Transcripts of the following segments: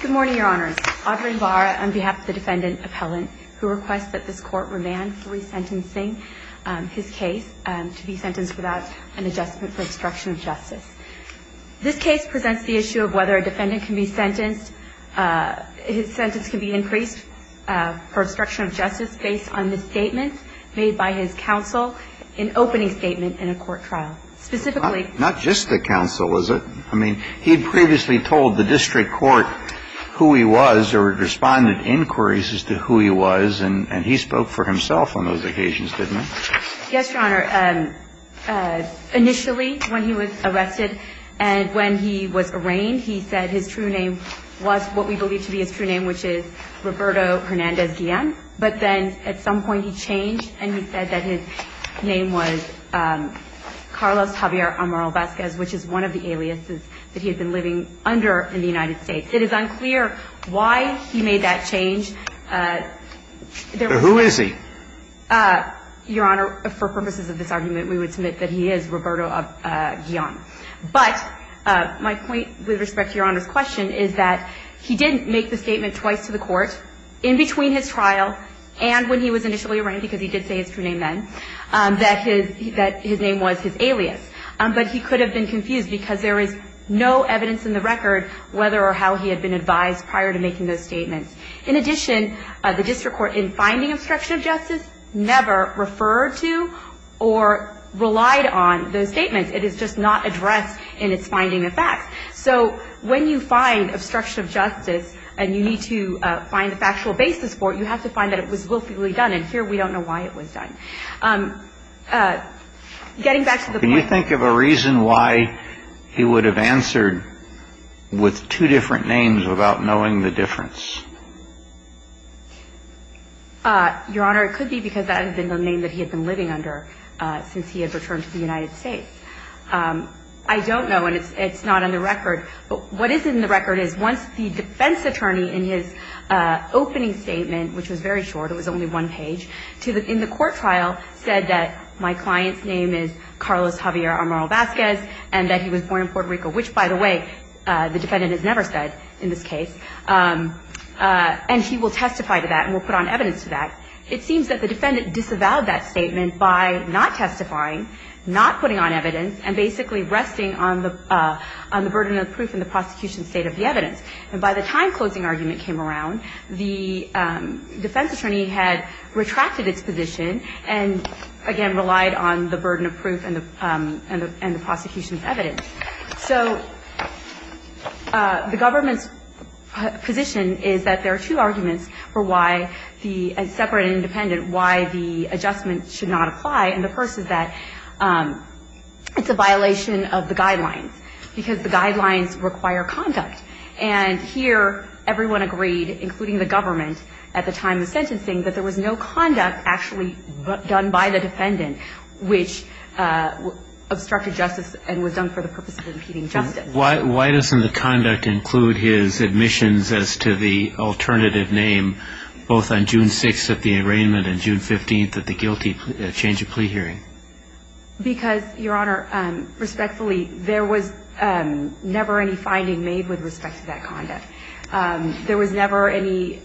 Good morning, Your Honors. Audrey Imbara on behalf of the defendant appellant who requests that this court remand for resentencing his case to be sentenced without an adjustment for obstruction of justice. This case presents the issue of whether a defendant can be sentenced, his sentence can be increased for obstruction of justice based on the statement made by his counsel in opening statement in a court trial. This case presents the issue of whether a defendant can be sentenced, his sentence can be increased for obstruction of justice based on the statement made by his counsel in opening statement in a court trial. whether he can be sentenced, his sentence can be increased for obstruction of justice based on the statement made by his counsel in opening statement in a court trial. And when he was initially arraigned, because he did say his true name then, that his name was his alias. But he could have been confused because there is no evidence in the record whether or how he had been advised prior to making those statements. In addition, the district court in finding obstruction of justice never referred to or relied on those statements. It is just not addressed in its finding of facts. So when you find obstruction of justice and you need to find the factual basis for it, you have to find that it was willfully done. And here we don't know why it was done. Getting back to the point. Can you think of a reason why he would have answered with two different names without knowing the difference? Your Honor, it could be because that had been the name that he had been living under since he had returned to the United States. I don't know, and it's not on the record. What is in the record is once the defense attorney in his opening statement, which was very short, it was only one page, in the court trial said that my client's name is Carlos Javier Amaral-Vazquez and that he was born in Puerto Rico, which, by the way, the defendant has never said in this case, and he will testify to that and will put on evidence to that. It seems that the defendant disavowed that statement by not testifying, not putting on evidence, and basically resting on the burden of proof in the prosecution's state of the evidence. And by the time closing argument came around, the defense attorney had retracted its position and, again, relied on the burden of proof and the prosecution's evidence. So the government's position is that there are two arguments for why the separate and independent, why the adjustment should not apply, and the first is that it's a violation of the guidelines, because the guidelines require conduct. And here everyone agreed, including the government at the time of sentencing, that there was no conduct actually done by the defendant which obstructed justice and was done for the purpose of impeding justice. Why doesn't the conduct include his admissions as to the alternative name, both on June 6th at the arraignment and June 15th at the guilty change of plea hearing? Because, Your Honor, respectfully, there was never any finding made with respect to that conduct. There was never any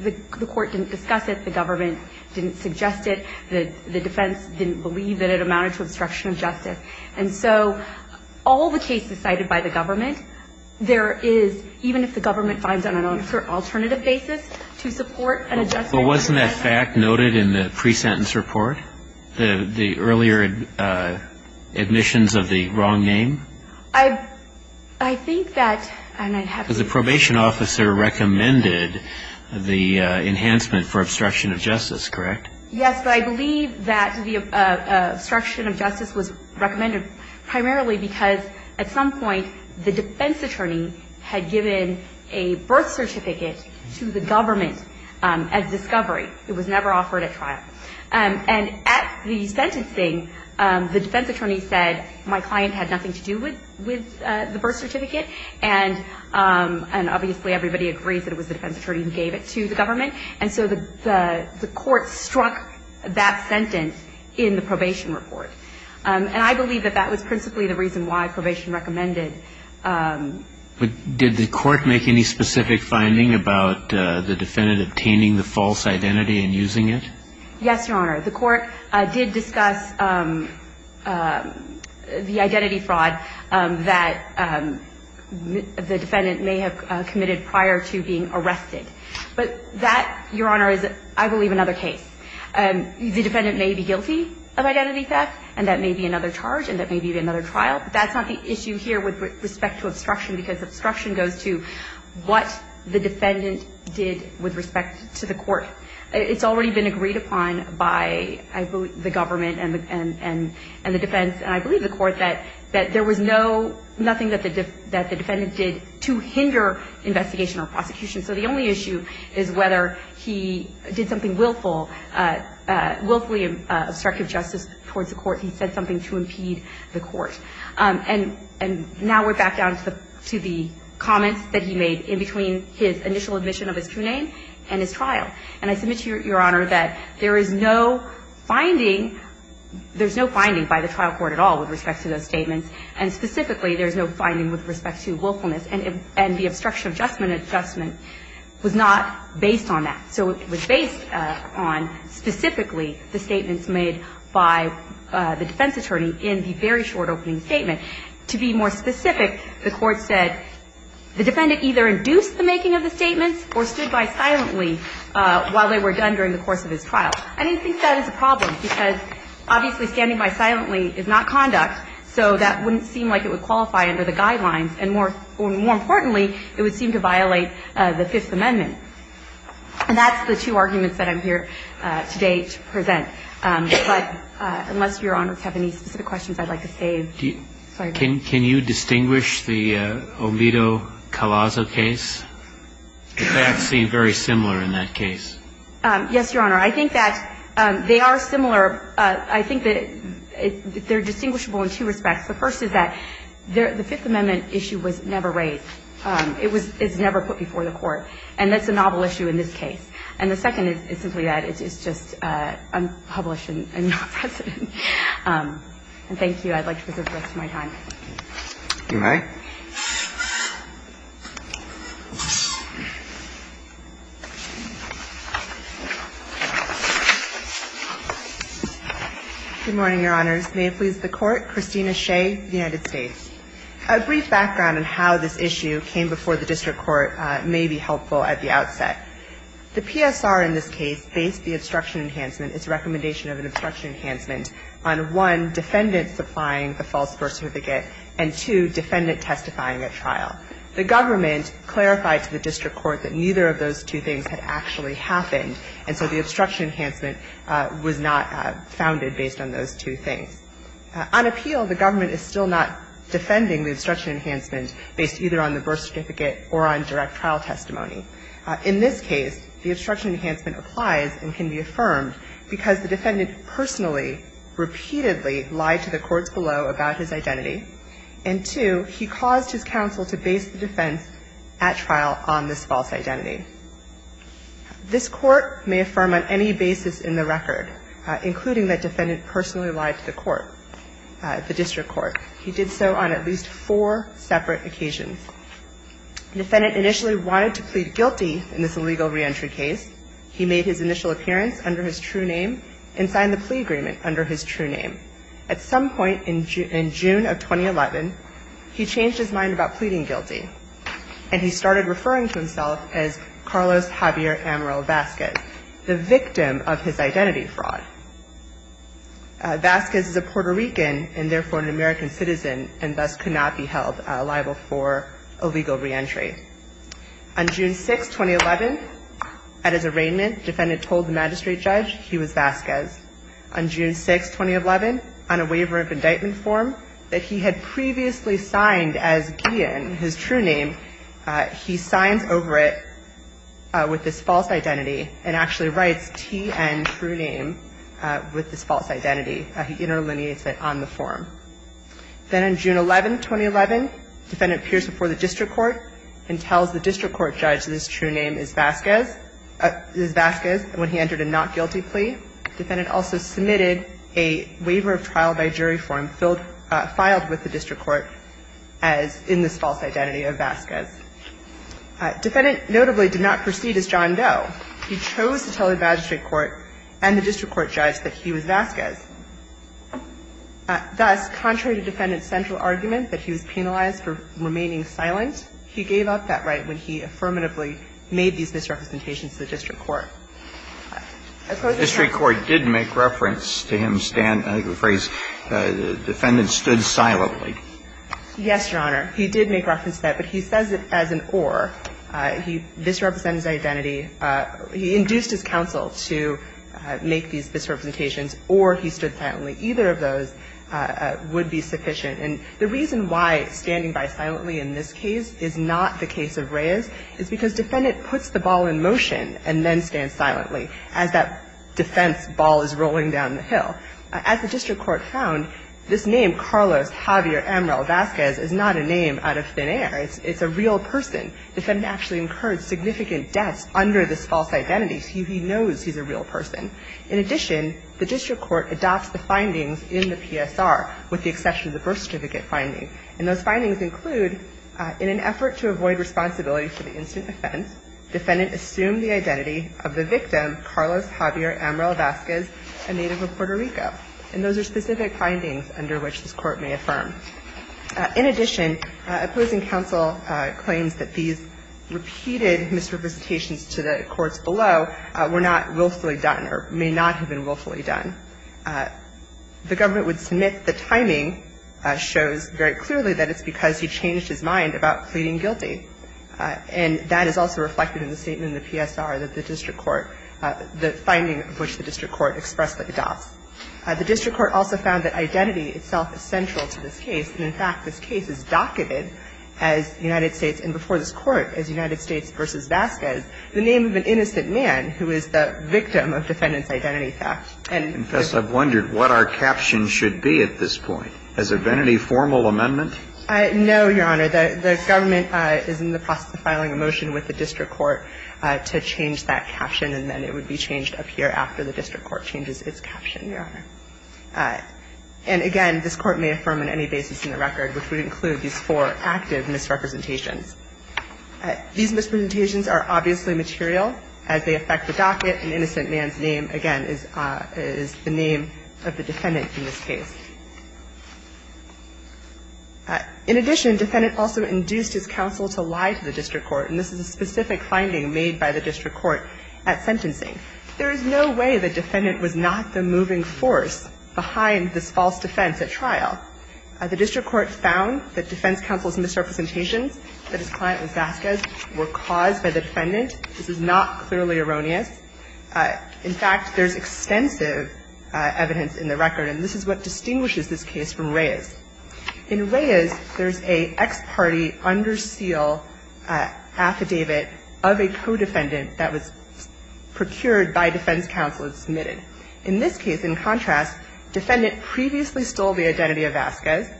the court didn't discuss it, the government didn't suggest it, the defense didn't believe that it amounted to obstruction of justice. And so all the cases cited by the government, there is, even if the government finds on an alternative basis to support an adjustment. But wasn't that fact noted in the pre-sentence report, the earlier admissions of the wrong name? I think that, and I have to see. Because the probation officer recommended the enhancement for obstruction of justice, correct? Yes, but I believe that the obstruction of justice was recommended primarily because at some point the defense attorney had given a birth certificate to the government as discovery. It was never offered at trial. And at the sentencing, the defense attorney said, my client had nothing to do with the birth certificate, and obviously everybody agrees that it was the defense attorney who gave it to the government. And so the court struck that sentence in the probation report. And I believe that that was principally the reason why probation recommended. Did the court make any specific finding about the defendant obtaining the false identity and using it? Yes, Your Honor. The court did discuss the identity fraud that the defendant may have committed prior to being arrested. But that, Your Honor, is, I believe, another case. The defendant may be guilty of identity theft, and that may be another charge, and that may be another trial. But that's not the issue here with respect to obstruction, because obstruction goes to what the defendant did with respect to the court. It's already been agreed upon by, I believe, the government and the defense, and I believe the court, that there was no, nothing that the defendant did to hinder investigation or prosecution. So the only issue is whether he did something willful, willfully obstructive justice towards the court. He said something to impede the court. And now we're back down to the comments that he made in between his initial admission of his true name and his trial. And I submit to Your Honor that there is no finding, there's no finding by the trial court at all with respect to those statements, and specifically there's no finding with respect to willfulness. And the obstruction adjustment adjustment was not based on that. So it was based on specifically the statements made by the defense attorney in the very short opening statement. To be more specific, the court said the defendant either induced the making of the statements or stood by silently while they were done during the course of his trial. I didn't think that is a problem, because obviously standing by silently is not conduct. So that wouldn't seem like it would qualify under the guidelines. And more importantly, it would seem to violate the Fifth Amendment. And that's the two arguments that I'm here today to present. But unless Your Honors have any specific questions, I'd like to save. Sorry. Can you distinguish the Alito-Calazzo case? The facts seem very similar in that case. Yes, Your Honor. I think that they are similar. I think that they're distinguishable in two respects. The first is that the Fifth Amendment issue was never raised. It was never put before the Court. And that's a novel issue in this case. And the second is simply that it's just unpublished and not precedent. And thank you. I'd like to present the rest of my time. You may. Good morning, Your Honors. May it please the Court. Christina Shea, United States. A brief background on how this issue came before the district court may be helpful at the outset. The PSR in this case based the obstruction enhancement, its recommendation of an obstruction enhancement, on, one, defendants supplying the false vertificate, and, two, defendants not supplying the false vertificate. In this case, the obstruction enhancement applies and can be affirmed because and, two, he claimed that the obstruction enhancement was not founded based on those two things. On appeal, the government is still not defending the obstruction enhancement based either on the birth certificate or on direct trial testimony. In this case, the obstruction enhancement applies and can be affirmed because the defendant personally repeatedly lied to the courts below about his identity, and, two, he caused his counsel to base the defense at trial on this false identity. This Court may affirm on any basis in the record, including that defendant personally lied to the court, the district court. He did so on at least four separate occasions. The defendant initially wanted to plead guilty in this illegal reentry case. He made his initial appearance under his true name and signed the plea agreement under his true name. At some point in June of 2011, he changed his mind about pleading guilty, and he started referring to himself as Carlos Javier Amaral Vazquez, the victim of his identity fraud. Vazquez is a Puerto Rican and, therefore, an American citizen, and thus could not be held liable for illegal reentry. On June 6, 2011, at his arraignment, the defendant told the magistrate judge he was Vazquez. On June 6, 2011, on a waiver of indictment form that he had previously signed as Guillen, his true name, he signs over it with this false identity and actually writes T.N. true name with this false identity. He interlineates it on the form. Then on June 11, 2011, the defendant appears before the district court and tells the district court judge that his true name is Vazquez when he entered a not-guilty plea. The defendant also submitted a waiver of trial by jury form filed with the district court as in this false identity of Vazquez. The defendant notably did not proceed as John Doe. He chose to tell the magistrate court and the district court judge that he was Vazquez. Thus, contrary to defendant's central argument, that he was penalized for remaining silent, he gave up that right when he affirmatively made these misrepresentations to the district court. I suppose the Court did make reference to him stand, I think the phrase, the defendant stood silently. Yes, Your Honor. He did make reference to that, but he says it as an or. He misrepresented his identity. He induced his counsel to make these misrepresentations or he stood silently. Either of those would be sufficient. And the reason why standing by silently in this case is not the case of Reyes is because defendant puts the ball in motion and then stands silently as that defense ball is rolling down the hill. As the district court found, this name, Carlos Javier Amaral Vazquez, is not a name out of thin air. It's a real person. The defendant actually incurred significant debts under this false identity. He knows he's a real person. In addition, the district court adopts the findings in the PSR with the exception of the birth certificate finding. And those findings include, in an effort to avoid responsibility for the incident offense, defendant assumed the identity of the victim, Carlos Javier Amaral Vazquez, a native of Puerto Rico. And those are specific findings under which this Court may affirm. In addition, opposing counsel claims that these repeated misrepresentations to the courts below were not willfully done or may not have been willfully done. The government would submit the timing shows very clearly that it's because he changed his mind about pleading guilty. And that is also reflected in the statement in the PSR that the district court the finding of which the district court expressly adopts. The district court also found that identity itself is central to this case. And, in fact, this case is docketed as United States and before this Court as United States v. Vazquez, the name of an innocent man who is the victim of defendant's identity theft. And the ---- I've wondered what our caption should be at this point. Has there been any formal amendment? No, Your Honor. The government is in the process of filing a motion with the district court to change that caption. And, again, this Court may affirm on any basis in the record which would include these four active misrepresentations. These misrepresentations are obviously material. As they affect the docket, an innocent man's name, again, is the name of the defendant in this case. In addition, defendant also induced his counsel to lie to the district court. And this is a specific finding made by the district court at 7-1-1. In addition, the district court found that the defendant was not the moving force behind this false defense at trial. The district court found that defense counsel's misrepresentations that his client was Vazquez were caused by the defendant. This is not clearly erroneous. In fact, there's extensive evidence in the record. And this is what distinguishes this case from Reyes. In Reyes, there's an ex parte under seal affidavit of a co-defendant that was procured by defense counsel and submitted. In this case, in contrast, defendant previously stole the identity of Vazquez.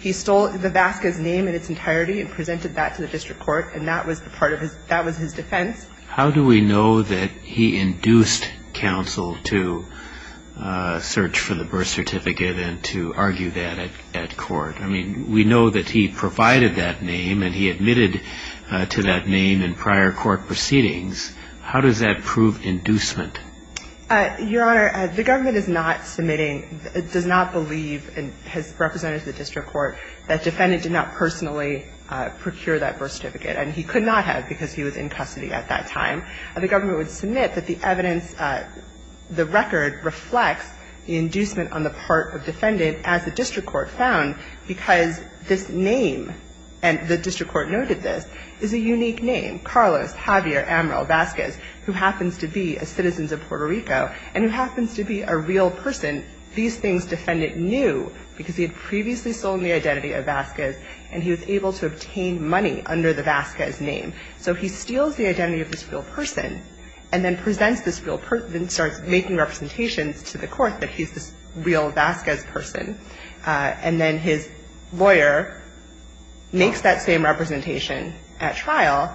He stole the Vazquez name in its entirety and presented that to the district court, and that was the part of his – that was his defense. How do we know that he induced counsel to search for the birth certificate and to argue that at court? I mean, we know that he provided that name and he admitted to that name in prior court proceedings. How does that prove inducement? Your Honor, the government is not submitting – does not believe, and has represented the district court, that defendant did not personally procure that birth certificate. And he could not have because he was in custody at that time. The government would submit that the evidence – the record reflects the inducement on the part of defendant, as the district court found, because this name – and the district court noted this – is a unique name, Carlos Javier Amaral Vazquez, who happens to be a citizen of Puerto Rico and who happens to be a real person. These things defendant knew because he had previously stolen the identity of Vazquez and he was able to obtain money under the Vazquez name. So he steals the identity of this real person and then presents this real – then he's this real Vazquez person, and then his lawyer makes that same representation at trial,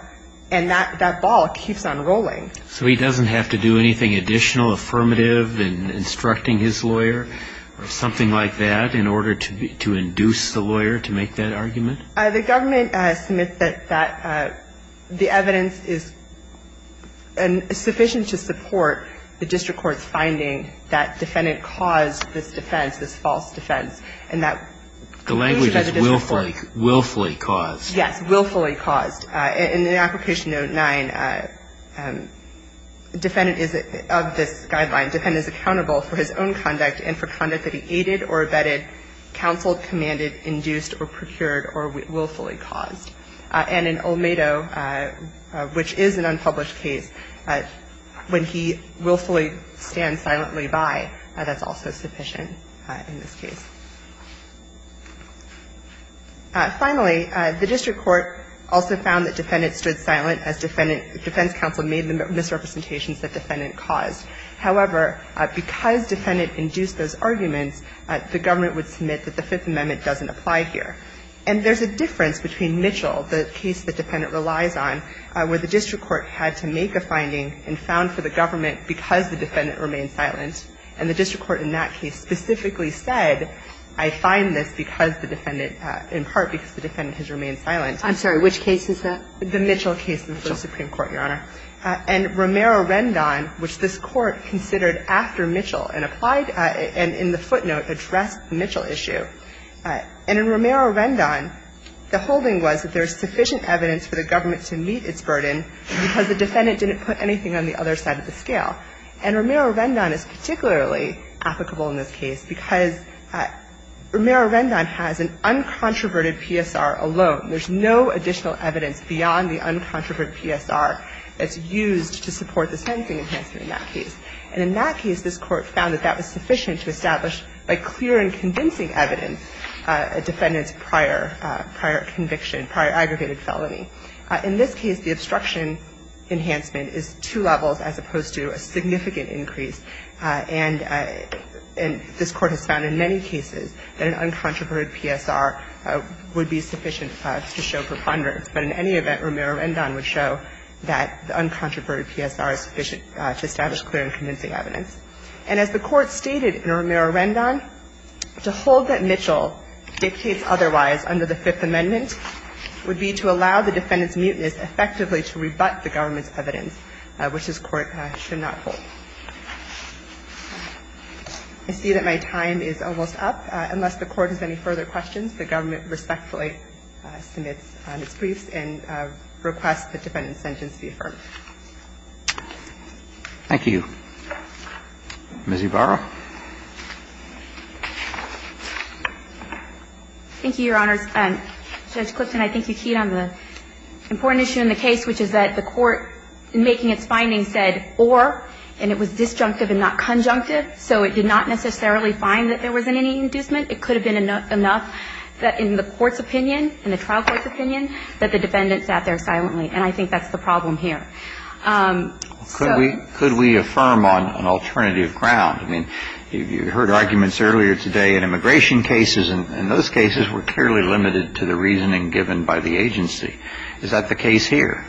and that ball keeps on rolling. So he doesn't have to do anything additional, affirmative, in instructing his lawyer or something like that in order to induce the lawyer to make that argument? The government submits that that – the evidence is sufficient to support the district court's finding that defendant caused this defense, this false defense. And that – The language is willfully – willfully caused. Yes, willfully caused. In the application note 9, defendant is – of this guideline, defendant is accountable for his own conduct and for conduct that he aided or abetted, counseled, commanded, induced, or procured, or willfully caused. And in Olmedo, which is an unpublished case, when he willfully stands silently by, that's also sufficient in this case. Finally, the district court also found that defendant stood silent as defendant – defense counsel made the misrepresentations that defendant caused. However, because defendant induced those arguments, the government would submit that the Fifth Amendment doesn't apply here. And there's a difference between Mitchell, the case the defendant relies on, where the district court had to make a finding and found for the government because the defendant remained silent, and the district court in that case specifically said, I find this because the defendant – in part because the defendant has remained silent. I'm sorry. Which case is that? The Mitchell case in the first Supreme Court, Your Honor. And Romero-Rendon, which this Court considered after Mitchell and applied – and in the footnote addressed the Mitchell issue. And in Romero-Rendon, the holding was that there's sufficient evidence for the government to meet its burden because the defendant didn't put anything on the other side of the scale. And Romero-Rendon is particularly applicable in this case because Romero-Rendon has an uncontroverted PSR alone. There's no additional evidence beyond the uncontroverted PSR that's used to support the sentencing enhancement in that case. And in that case, this Court found that that was sufficient to establish by clear and convincing evidence a defendant's prior conviction, prior aggregated felony. In this case, the obstruction enhancement is two levels as opposed to a significant increase. And this Court has found in many cases that an uncontroverted PSR would be sufficient to show preponderance. But in any event, Romero-Rendon would show that the uncontroverted PSR is sufficient to establish clear and convincing evidence. And as the Court stated in Romero-Rendon, to hold that Mitchell dictates otherwise under the Fifth Amendment would be to allow the defendant's mutinous effectively to rebut the government's evidence, which this Court should not hold. I see that my time is almost up. Unless the Court has any further questions, the government respectfully submits its briefs and requests the defendant's sentence be affirmed. Thank you. Ms. Ybarra. Thank you, Your Honors. Judge Clifton, I think you keyed on the important issue in the case, which is that the Court, in making its findings, said or, and it was disjunctive and not conjunctive, so it did not necessarily find that there wasn't any inducement. It could have been enough that in the Court's opinion, in the trial court's opinion, that the defendant sat there silently. And I think that's the problem here. So. Could we affirm on an alternative ground? I mean, you heard arguments earlier today in immigration cases, and those cases were clearly limited to the reasoning given by the agency. Is that the case here?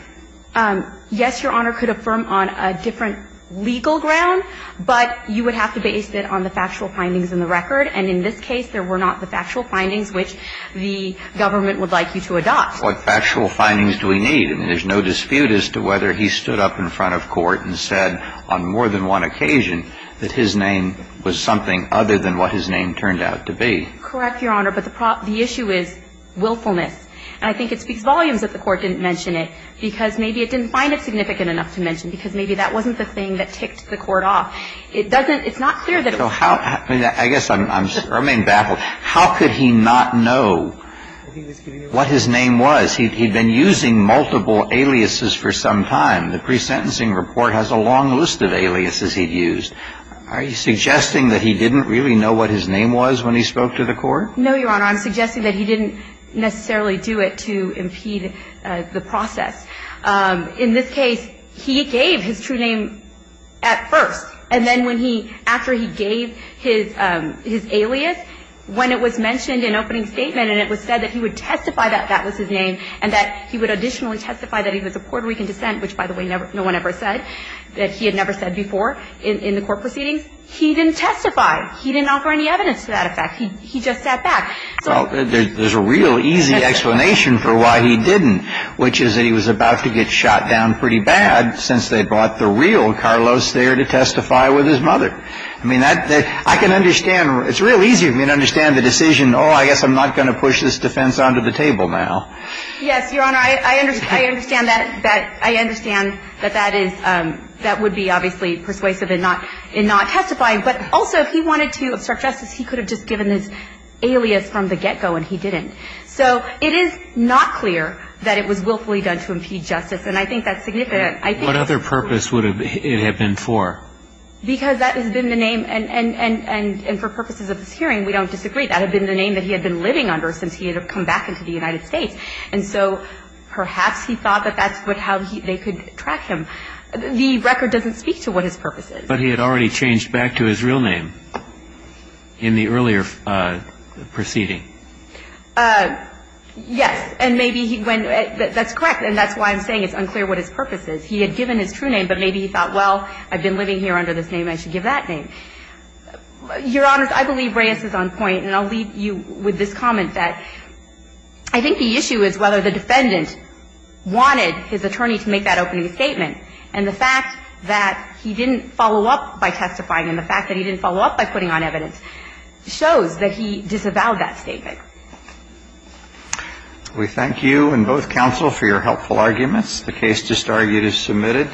Yes, Your Honor, could affirm on a different legal ground, but you would have to base it on the factual findings in the record. And in this case, there were not the factual findings which the government would like you to adopt. What factual findings do we need? I mean, there's no dispute as to whether he stood up in front of court and said on more than one occasion that his name was something other than what his name turned out to be. Correct, Your Honor, but the issue is willfulness. And I think it speaks volumes that the Court didn't mention it, because maybe it didn't find it significant enough to mention, because maybe that wasn't the thing that ticked It doesn't, it's not clear that it was. I mean, I guess I'm being baffled. How could he not know what his name was? He'd been using multiple aliases for some time. The pre-sentencing report has a long list of aliases he'd used. Are you suggesting that he didn't really know what his name was when he spoke to the court? No, Your Honor. I'm suggesting that he didn't necessarily do it to impede the process. In this case, he gave his true name at first. And then when he, after he gave his alias, when it was mentioned in opening statement and it was said that he would testify that that was his name and that he would additionally testify that he was of Puerto Rican descent, which, by the way, no one ever said, that he had never said before in the court proceedings, he didn't testify. He didn't offer any evidence to that effect. He just sat back. Well, there's a real easy explanation for why he didn't, which is that he was about to get shot down pretty bad since they brought the real Carlos there to testify with his mother. I mean, that, I can understand, it's real easy for me to understand the decision, oh, I guess I'm not going to push this defense onto the table now. Yes, Your Honor. I understand that, that, I understand that that is, that would be obviously persuasive in not, in not testifying. But also, he wanted to suggest that he could have just given his alias from the get-go and he didn't. So it is not clear that it was willfully done to impede justice. And I think that's significant. I think that's significant. What other purpose would it have been for? Because that has been the name. And for purposes of this hearing, we don't disagree. That had been the name that he had been living under since he had come back into the United States. And so perhaps he thought that that's how they could track him. The record doesn't speak to what his purpose is. But he had already changed back to his real name in the earlier proceeding. Yes. And maybe he went, that's correct. And that's why I'm saying it's unclear what his purpose is. He had given his true name, but maybe he thought, well, I've been living here under this name, I should give that name. Your Honors, I believe Reyes is on point. And I'll leave you with this comment that I think the issue is whether the defendant wanted his attorney to make that opening statement. And the fact that he didn't follow up by testifying and the fact that he didn't follow up by putting on evidence shows that he disavowed that statement. We thank you and both counsel for your helpful arguments. The case just argued is submitted.